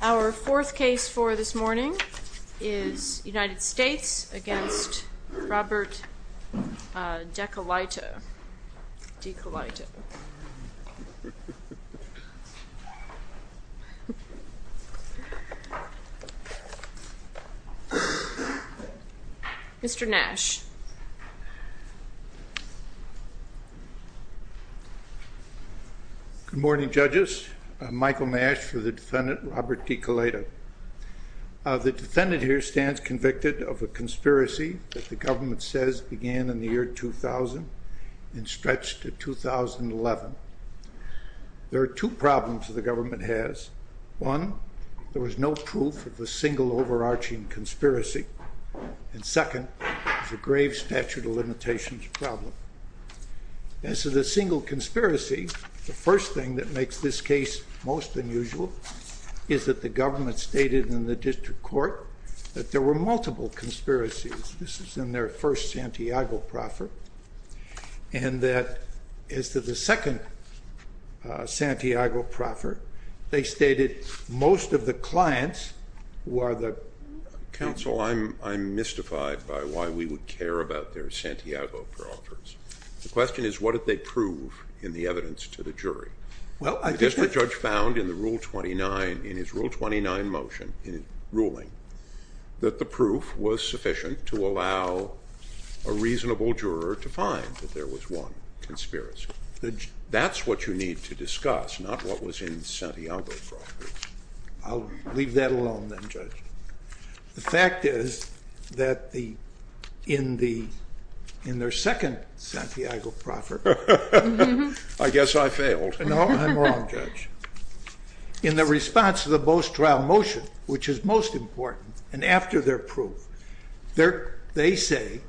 Our fourth case for this morning is United States v. Robert Dekelaita. Mr. Nash. Good morning judges. I'm Michael Nash for the defendant Robert Dekelaita. The defendant here stands convicted of a conspiracy that the government says began in the year 2000 and stretched to 2011. There are two problems the government has. One, there was no proof of a single overarching conspiracy. And second, there's a grave statute of limitations problem. As to the single conspiracy, the first thing that makes this case most unusual is that the government stated in the district court that there were multiple conspiracies. This is in their first Santiago proffer. And that as to the second Santiago proffer, they stated most of the clients who are the counsel, I'm, I'm mystified by why we would care about their Santiago proffers. The question is, what did they prove in the evidence to the jury? Well, I guess the judge found in the rule 29 in his rule 29 motion in ruling that the proof was sufficient to allow a reasonable juror to find that there was one conspiracy. That's what you need to discuss, not what was in Santiago proffers. I'll leave that alone then judge. The fact is that the, in the, in their second Santiago proffer, I guess I failed. No, I'm wrong judge. In after their proof, they're, they say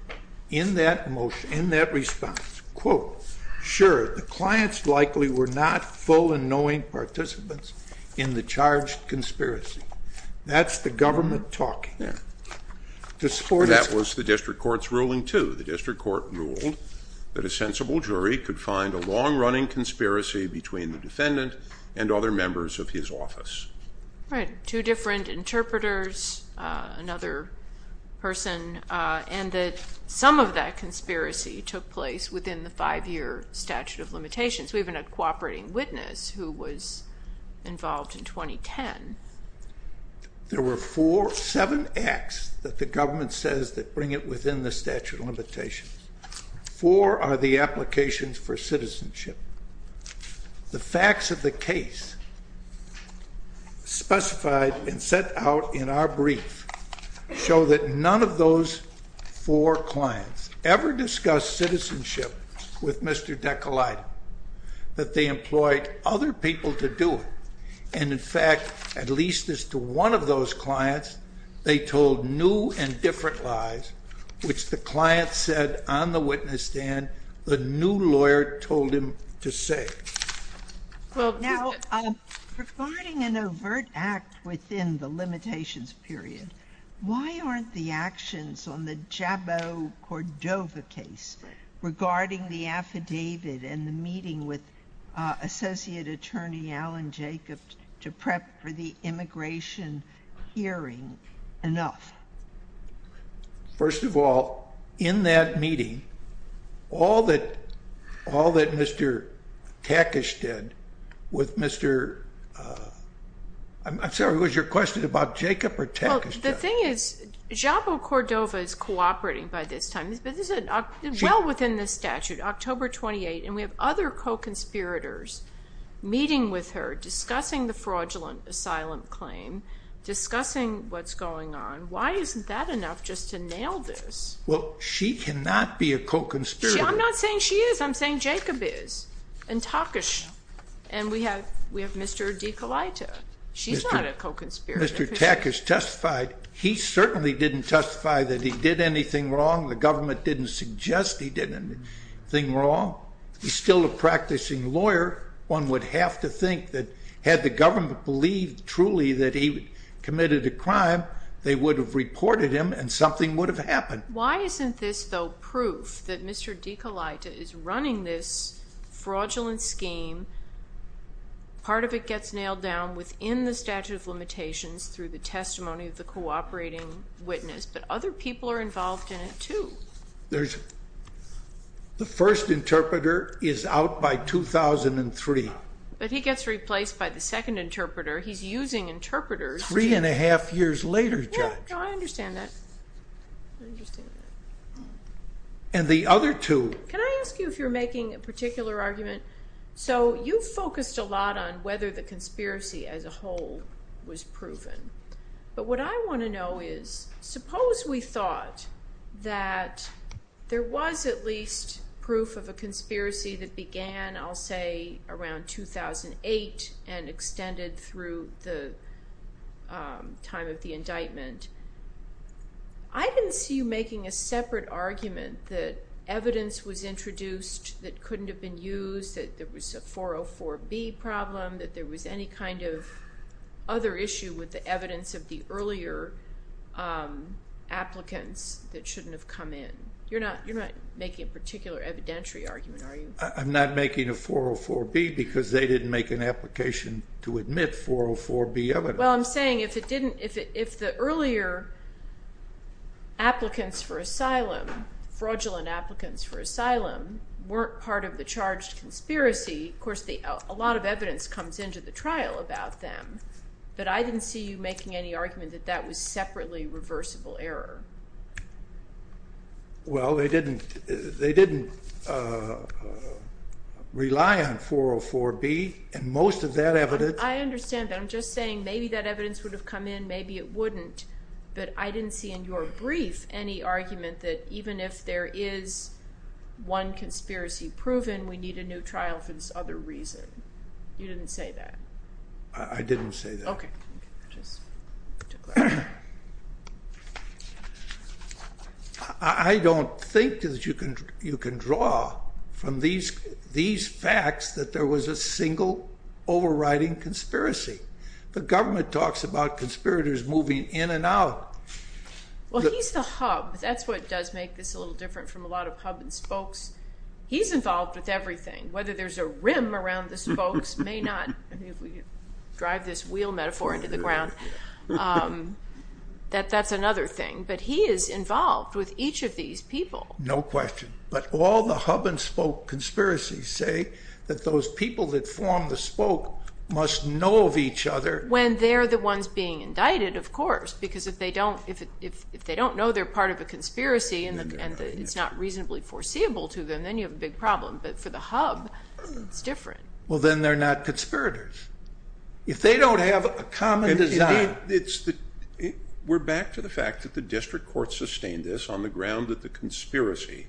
in that motion, in that response, quote, sure. The clients likely were not full and knowing participants in the charged conspiracy. That's the government talking. Yeah. That was the district court's ruling to the district court ruled that a sensible jury could find a long running conspiracy between the defendant and other members of his office. Right. Two different interpreters, uh, another person, uh, and that some of that conspiracy took place within the five year statute of limitations. We even had cooperating witness who was involved in 2010. There were four, seven acts that the government says that bring it within the statute of limitations. Four are the applications for citizenship. The facts of the case specified and set out in our brief show that none of those four clients ever discussed citizenship with Mr. Deco light, that they employed other people to do it. And in fact, at least as to one of those clients, they told new and different lies, which the client said on the witness stand, the new lawyer told him to say, well, regarding an overt act within the limitations period, why aren't the actions on the JABO Cordova case regarding the affidavit and the meeting with, uh, associate attorney Alan Jacobs to prep for the immigration hearing enough. First of all, in that meeting, all that, all that Mr. Takish did with Mr. Uh, I'm sorry, it was your question about Jacob or Takish. The thing is JABO Cordova is cooperating by this time, but this is well within the statute, October 28. And we have other co-conspirators meeting with her, discussing the fraudulent asylum claim, discussing what's going on. Why isn't that enough just to nail this? Well, she can not be a co-conspirator. I'm not saying she is. I'm saying Jacob is and Takish. And we have, we have Mr. Deco light. She's not a co-conspirator. Mr. Takish testified. He certainly didn't testify that he did anything wrong. The government didn't suggest he did anything wrong. He's still a practicing lawyer. One would have to think that had the government believed truly that he committed a crime, they would have reported him and something would have happened. Why isn't this though, proof that Mr. Deco light is running this fraudulent scheme. Part of it gets nailed down within the statute of the first interpreter is out by 2003, but he gets replaced by the second interpreter. He's using interpreters three and a half years later. I understand that. And the other two, can I ask you if you're making a particular argument? So you focused a lot on whether the conspiracy as a whole was that there was at least proof of a conspiracy that began, I'll say around 2008 and extended through the time of the indictment. I didn't see you making a separate argument that evidence was introduced that couldn't have been used, that there was a 404 B problem, that there was any kind of other issue with the evidence of the earlier applicants that shouldn't have come in. You're not making a particular evidentiary argument, are you? I'm not making a 404 B because they didn't make an application to admit 404 B evidence. Well, I'm saying if it didn't, if the earlier applicants for asylum, fraudulent applicants for asylum, weren't part of the charged conspiracy, of course, a lot of I didn't see you making any argument that that was separately reversible error. Well, they didn't, they didn't rely on 404 B and most of that evidence. I understand that. I'm just saying maybe that evidence would have come in, maybe it wouldn't, but I didn't see in your brief any argument that even if there is one conspiracy proven, we need a new trial for this other reason. You didn't say that. I didn't say that. Okay. I don't think that you can draw from these facts that there was a single overriding conspiracy. The government talks about conspirators moving in and out. Well, he's the hub. That's what does make this a little different from a lot of hub and spokes. He's involved with everything, whether there's a rim around the spokes, may not drive this wheel metaphor into the ground. That's another thing, but he is involved with each of these people. No question. But all the hub and spoke conspiracies say that those people that form the spoke must know of each other when they're the ones being indicted, of course, because if they don't, if they don't know they're part of a conspiracy and it's not reasonably foreseeable to them, then you have a big problem. But for the hub, it's different. Well, then they're not conspirators. If they don't have a common design. We're back to the fact that the district court sustained this on the ground that the conspiracy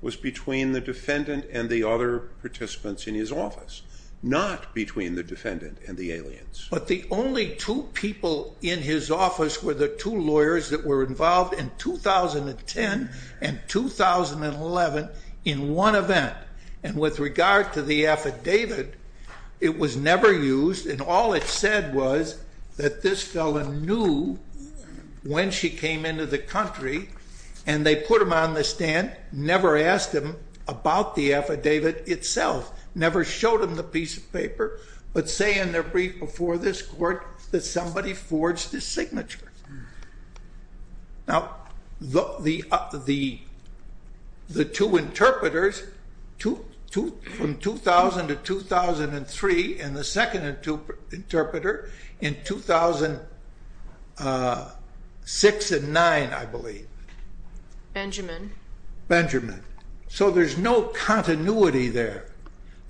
was between the defendant and the other participants in his office, not between the defendant and the aliens. But the only two people in his office were the two lawyers that were involved in 2010 and 2011 in one event, and with regard to the affidavit, it was never used and all it said was that this fella knew when she came into the country and they put him on the stand, never asked him about the affidavit itself, never showed him the piece of paper, but say in their brief before this court that somebody forged his from 2000 to 2003 and the second interpreter in 2006 and 2009, I believe. Benjamin. Benjamin. So there's no continuity there.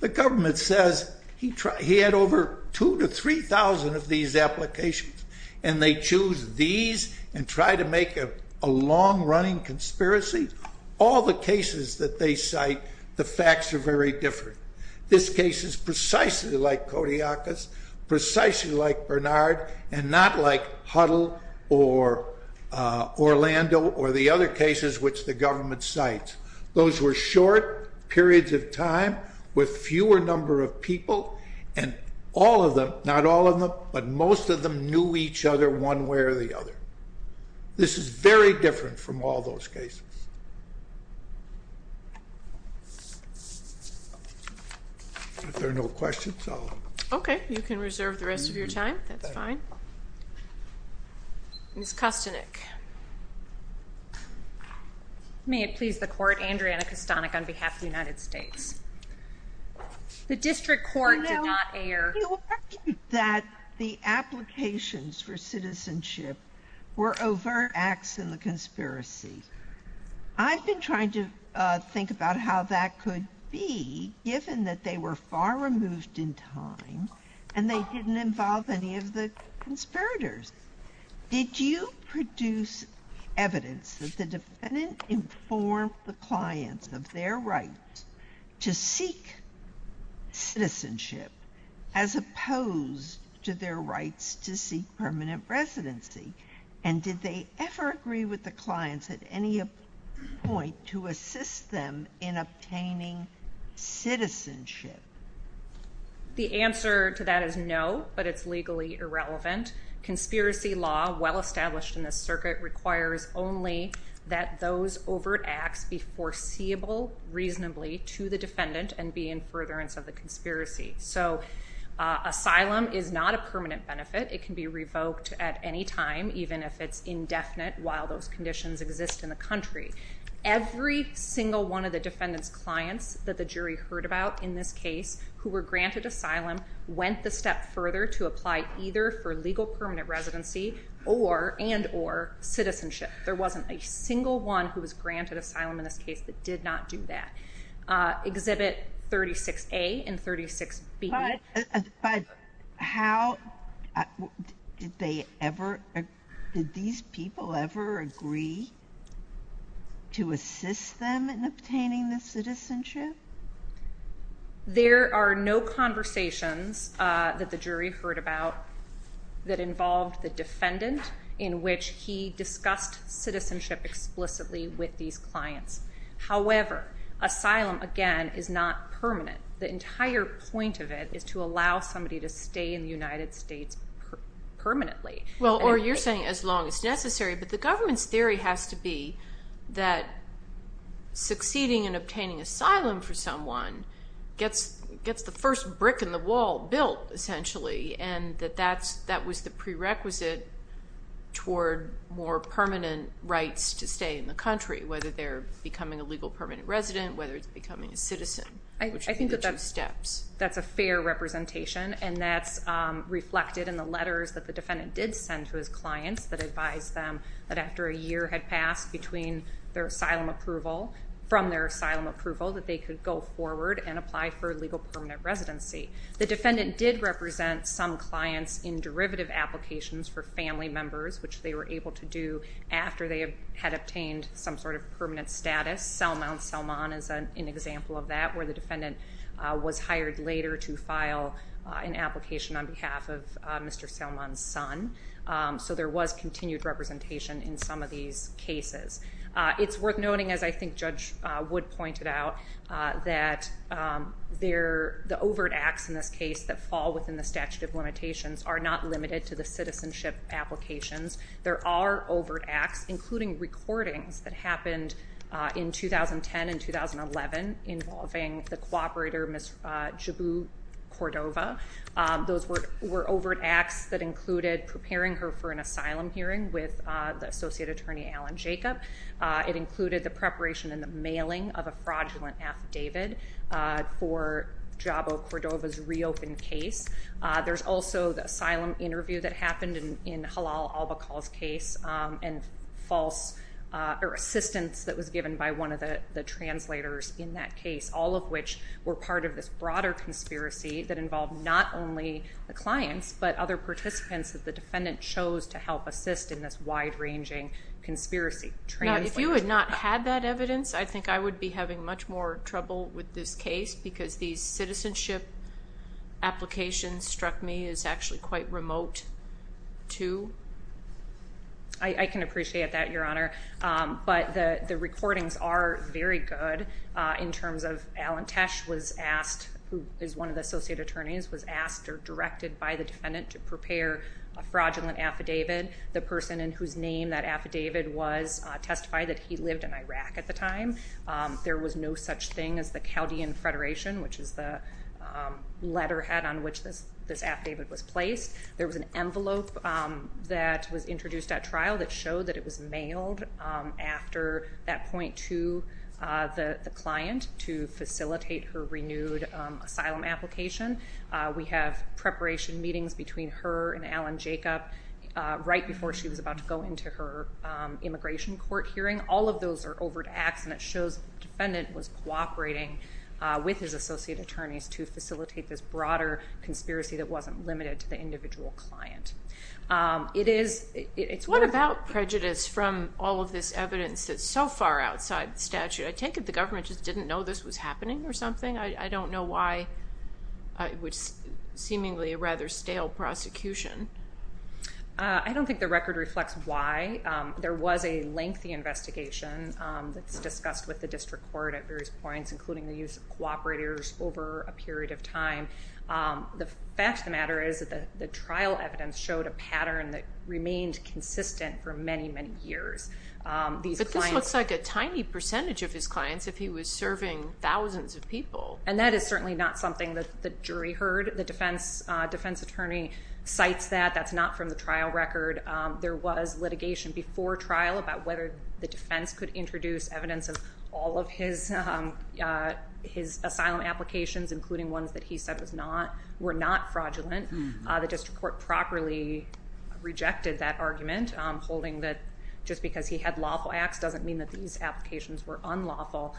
The government says he had over 2,000 to 3,000 of these applications and they choose these and try to make a long-running conspiracy. All the cases that they cite, the facts are very different. This case is precisely like Kodiakos, precisely like Bernard, and not like Huddle or Orlando or the other cases which the government cites. Those were short periods of time with fewer number of people and all of them, not all of them, but most of them knew each other one way or the other. This is very different from all those cases. If there are no questions, I'll... Okay, you can reserve the rest of your time. That's fine. Ms. Kostinik. May it please the court, Andrea Kostinik on behalf of the United States. The district court did not air... ...that the applications for citizenship were overt acts in the conspiracy. I've been trying to think about how that could be given that they were far removed in time and they didn't involve any of the conspirators. Did you produce evidence that the defendant informed the clients of their right to seek citizenship as opposed to their rights to seek permanent residency? And did they ever agree with the clients at any point to assist them in obtaining citizenship? The answer to that is no, but it's legally irrelevant. Conspiracy law, well-established in the circuit, requires only that those overt acts be foreseeable reasonably to the defendant and be in furtherance of the conspiracy. So asylum is not a permanent benefit. It can be revoked at any time, even if it's indefinite while those conditions exist in the country. Every single one of the defendant's clients that the jury heard about in this case who were granted asylum went the step further to apply either for legal permanent residency or and or citizenship. There wasn't a single one who was granted asylum in this case that did not do that. Exhibit 36A and 36B. But how did they ever, did these people ever agree to assist them in obtaining the citizenship? There are no conversations that the jury heard about that involved the defendant in which he discussed citizenship explicitly with these clients. However, asylum again is not permanent. The entire point of it is to allow somebody to stay in the United States permanently. Well, or you're saying as long as necessary, but the government's theory has to be that succeeding in obtaining asylum for someone gets gets the first brick in the wall built essentially and that that's that was the prerequisite toward more permanent rights to stay in the country, whether they're becoming a legal permanent resident, whether it's becoming a citizen. I think that's steps. That's a fair representation and that's reflected in the letters that the defendant did send to clients that advised them that after a year had passed between their asylum approval, from their asylum approval, that they could go forward and apply for legal permanent residency. The defendant did represent some clients in derivative applications for family members, which they were able to do after they had obtained some sort of permanent status. Salman Salman is an example of that, where the defendant was hired later to file an application on behalf of Mr. Salman's son. So there was continued representation in some of these cases. It's worth noting, as I think Judge Wood pointed out, that they're the overt acts in this case that fall within the statute of limitations are not limited to the citizenship applications. There are overt acts, including recordings that happened in 2010 and 2011 involving the cooperator, Ms. Jabu Cordova. Those were overt acts that included preparing her for an asylum hearing with the Associate Attorney Alan Jacob. It included the preparation and the mailing of a fraudulent affidavit for Jabu Cordova's reopened case. There's also the asylum interview that happened in were part of this broader conspiracy that involved not only the clients, but other participants that the defendant chose to help assist in this wide-ranging conspiracy. Now, if you had not had that evidence, I think I would be having much more trouble with this case, because these citizenship applications struck me as actually quite remote, too. I can appreciate that, Your Honor, but the recordings are very good in terms of the evidence. Alan Tesh was asked, who is one of the Associate Attorneys, was asked or directed by the defendant to prepare a fraudulent affidavit. The person in whose name that affidavit was testified that he lived in Iraq at the time. There was no such thing as the Chaudian Federation, which is the letterhead on which this affidavit was placed. There was an envelope that was introduced at trial that showed that it was mailed after that point to the defendant to facilitate her renewed asylum application. We have preparation meetings between her and Alan Jacob right before she was about to go into her immigration court hearing. All of those are overt acts, and it shows the defendant was cooperating with his Associate Attorneys to facilitate this broader conspiracy that wasn't limited to the individual client. It is, it's what about prejudice from all of this evidence that's so far outside the statute? I take it the government just didn't know this was happening or something? I don't know why it was seemingly a rather stale prosecution. I don't think the record reflects why. There was a lengthy investigation that's discussed with the district court at various points, including the use of cooperators over a period of time. The fact of the matter is that the trial evidence showed a pattern that remained consistent for many, many years. But this looks like a tiny percentage of his clients, if he was serving thousands of people. And that is certainly not something that the jury heard. The defense attorney cites that. That's not from the trial record. There was litigation before trial about whether the defense could introduce evidence of all of his asylum applications, including ones that he said were not fraudulent. The district court properly rejected that argument, holding that just because he had lawful acts doesn't mean that these applications were unlawful.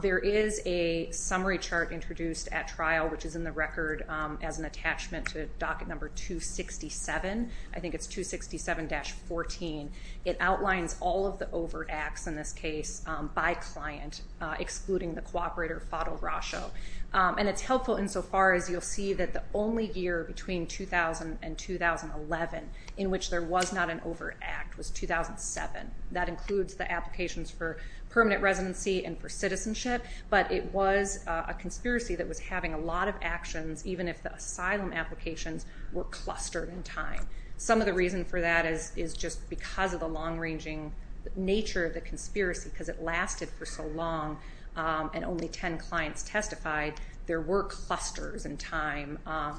There is a summary chart introduced at trial, which is in the record as an attachment to docket number 267. I think it's 267-14. It outlines all of the overt acts in this case by client, excluding the cooperator Fado Rasho. And it's helpful insofar as you'll see that the only year between 2000 and 2011 in which there was not an overt act was 2007. That includes the applications for permanent residency and for citizenship, but it was a conspiracy that was having a lot of actions, even if the asylum applications were clustered in time. Some of the reason for that is just because of the long-ranging nature of the conspiracy, because it lasted for so long and only 10 clients testified, there were clusters in time.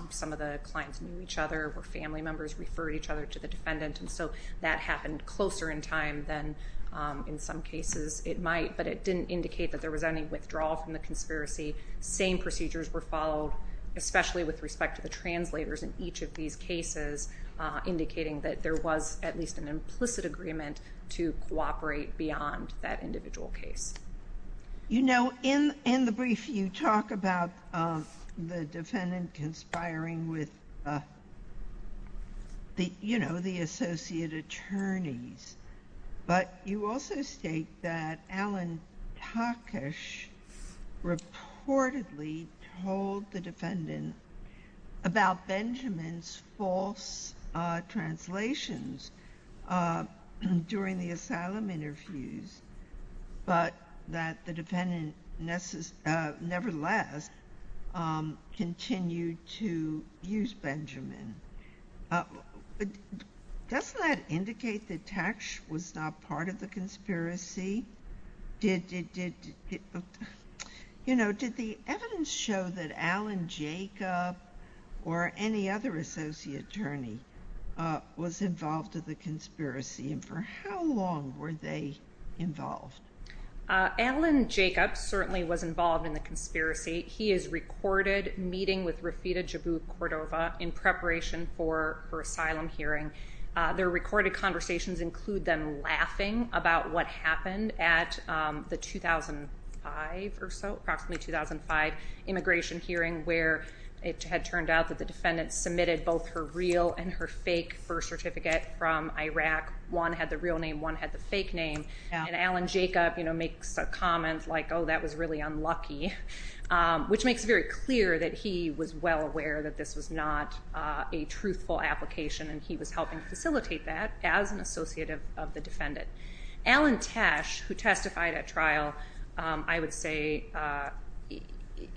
Some of the clients knew each other, were family members, referred each other to the defendant, and so that happened closer in time than in some cases it might, but it didn't indicate that there was any withdrawal from the conspiracy. Same procedures were followed, especially with respect to the translators in each of these cases, indicating that there was at least an implicit agreement to cooperate beyond that individual case. You know, in the brief, you talk about the defendant conspiring with, you know, the associate attorneys, but you also state that Alan Takish reportedly told the defendant about Benjamin's false translations during the asylum interviews, but that the defendant nevertheless continued to use Benjamin. Doesn't that indicate that Takish was not part of the conspiracy? Did, you know, did the evidence show that Alan Jacob or any other associate attorney was involved in the conspiracy, and for how long were they involved? Alan Jacob certainly was involved in the conspiracy. He is recorded meeting with Rafida Jabouk-Cordova in preparation for her asylum hearing. Their recorded conversations include them laughing about what happened at the 2005 or so, approximately 2005 immigration hearing, where it had turned out that the defendant submitted both her real and her fake first certificate from Iraq. One had the real name, one had the fake name, and Alan Jacob, you know, makes a comment like, oh, that was really unlucky, which makes it very clear that he was well aware that this was not a truthful application, and he was helping facilitate that as an associate of the defendant. Alan Tesh, who testified at trial, I would say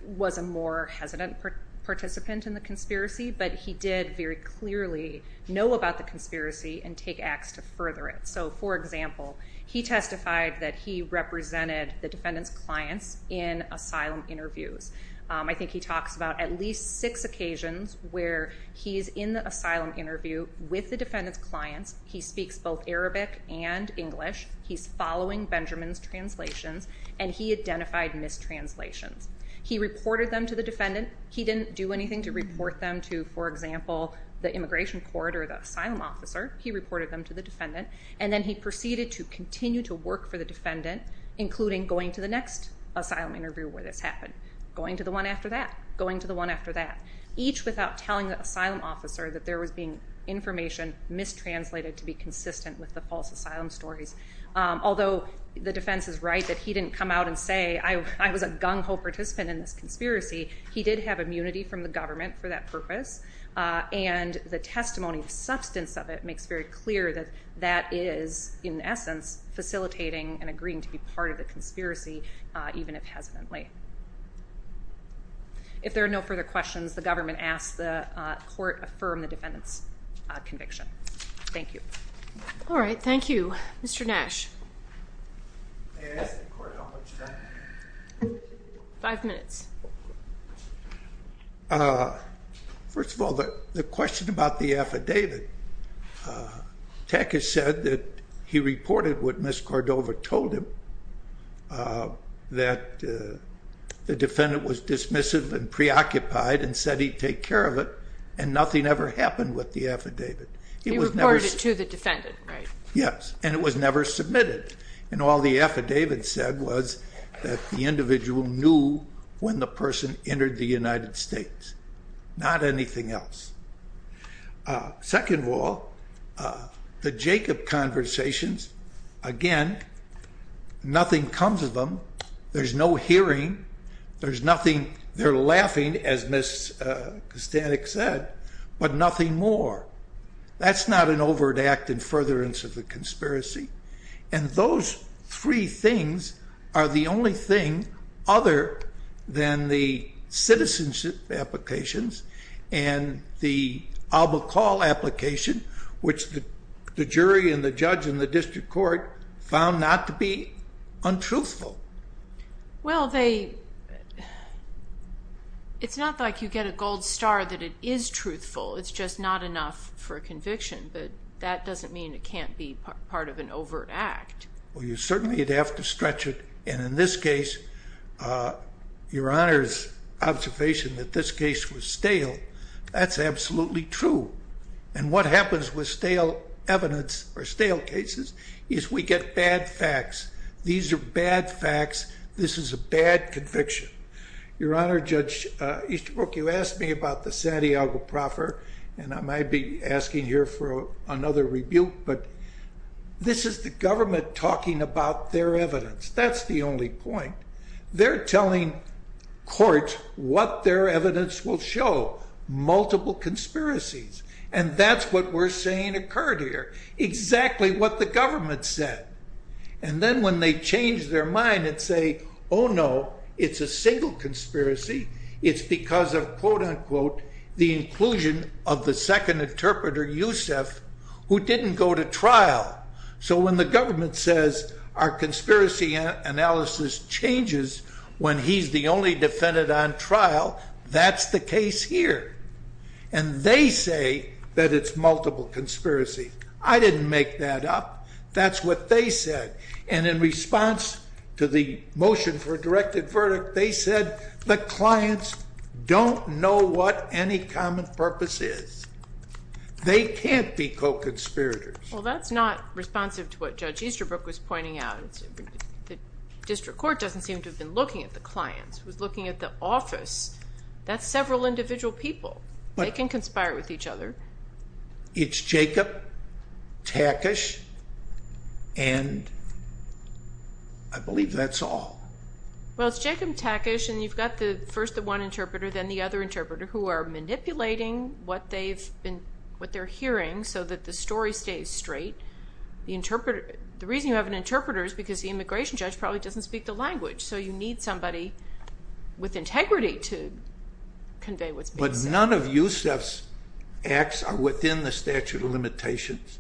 was a more hesitant participant in the conspiracy, but he did very clearly know about the conspiracy and take acts to further it. So, for example, he testified that he represented the defendant's clients in asylum interviews. I think he talks about at least six occasions where he's in the asylum interview with the defendant's clients, he speaks both Arabic and English, he's following Benjamin's translations, and he identified mistranslations. He reported them to the defendant, he didn't do anything to report them to, for example, the immigration court or the asylum officer, he reported them to the defendant, and then he proceeded to continue to work for the defendant, including going to the next asylum interview where this happened. Going to the one after that, going to the one after that, each without telling the asylum officer that there was being information mistranslated to be consistent with the false asylum stories. Although the defense is right that he didn't come out and say, I was a gung-ho participant in this conspiracy, he did have immunity from the government for that purpose, and the testimony, the substance of it makes very clear that that is, in essence, facilitating and agreeing to be part of the conspiracy, even if hesitantly. If there are no further questions, the government asks the court affirm the defendant's conviction. Thank you. All right, thank you. Mr. Nash. May I ask the court how much time? Five minutes. First of all, the question about the affidavit, Teck has said that he reported what Ms. Cordova told him, that the defendant was dismissive and preoccupied and said he'd take care of it, and nothing ever happened with the affidavit. He reported it to the defendant, right? Yes, and it was never submitted. And all the affidavit said was that the individual knew when the person entered the United States, not anything else. Second of all, the Jacob conversations, again, nothing comes of them. There's no hearing. There's nothing. They're laughing, as Ms. Kostanek said, but nothing more. That's not an overt act in furtherance of the conspiracy. And those three things are the only thing other than the citizenship applications and the albacore application, which the jury and the judge and the district court found not to be untruthful. Well, it's not like you get a gold star that it is truthful. It's just not enough for a conviction. But that doesn't mean it can't be part of an overt act. Well, you certainly would have to stretch it. And in this case, Your Honor's observation that this case was stale, that's absolutely true. And what happens with stale evidence or stale cases is we get bad facts. These are bad facts. This is a bad conviction. Your Honor, Judge Easterbrook, you asked me about the Santiago proffer, and I might be asking here for another rebuke. But this is the government talking about their evidence. That's the only point. They're telling court what their evidence will show, multiple conspiracies. And that's what we're saying occurred here, exactly what the government said. And then when they change their mind and say, oh, no, it's a single conspiracy. It's because of, quote, unquote, the inclusion of the second interpreter, Yousef, who didn't go to trial. So when the government says our conspiracy analysis changes when he's the only defendant on trial, that's the case here. And they say that it's multiple conspiracy. I didn't make that up. That's what they said. And in response to the motion for a directed verdict, they said the clients don't know what any common purpose is. They can't be co-conspirators. Well, that's not responsive to what Judge Easterbrook was pointing out. The district court doesn't seem to have been looking at the clients. It was looking at the office. That's several individual people. They can conspire with each other. It's Jacob, Takish, and I believe that's all. Well, it's Jacob, Takish. And you've got the first, the one interpreter, then the other interpreter who are manipulating what they've been, what they're hearing so that the story stays straight. The interpreter, the reason you have an interpreter is because the immigration judge probably doesn't speak the language. So you need somebody with integrity to convey what's being said. But none of Yousef's acts are within the statute of limitations.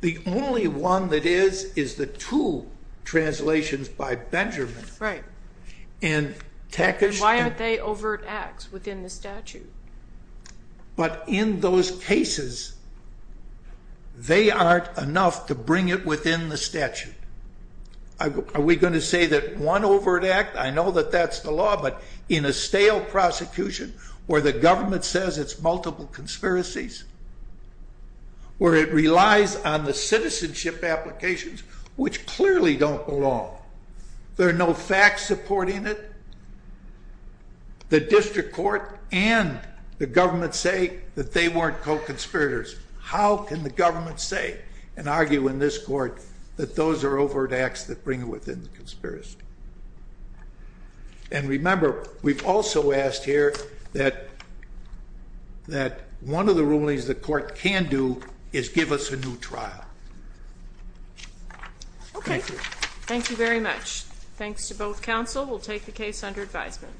The only one that is, is the two translations by Benjamin and Takish. And why aren't they overt acts within the statute? But in those cases, they aren't enough to bring it within the statute. Are we going to say that one overt act? I know that that's the law. But in a stale prosecution, where the government says it's multiple conspiracies, where it relies on the citizenship applications, which clearly don't belong. There are no facts supporting it. The district court and the government say that they weren't co-conspirators. How can the government say and argue in this court that those are overt acts that bring within the conspiracy? And remember, we've also asked here that one of the rulings the court can do is give us a new trial. Okay, thank you very much. Thanks to both counsel. We'll take the case under advisement.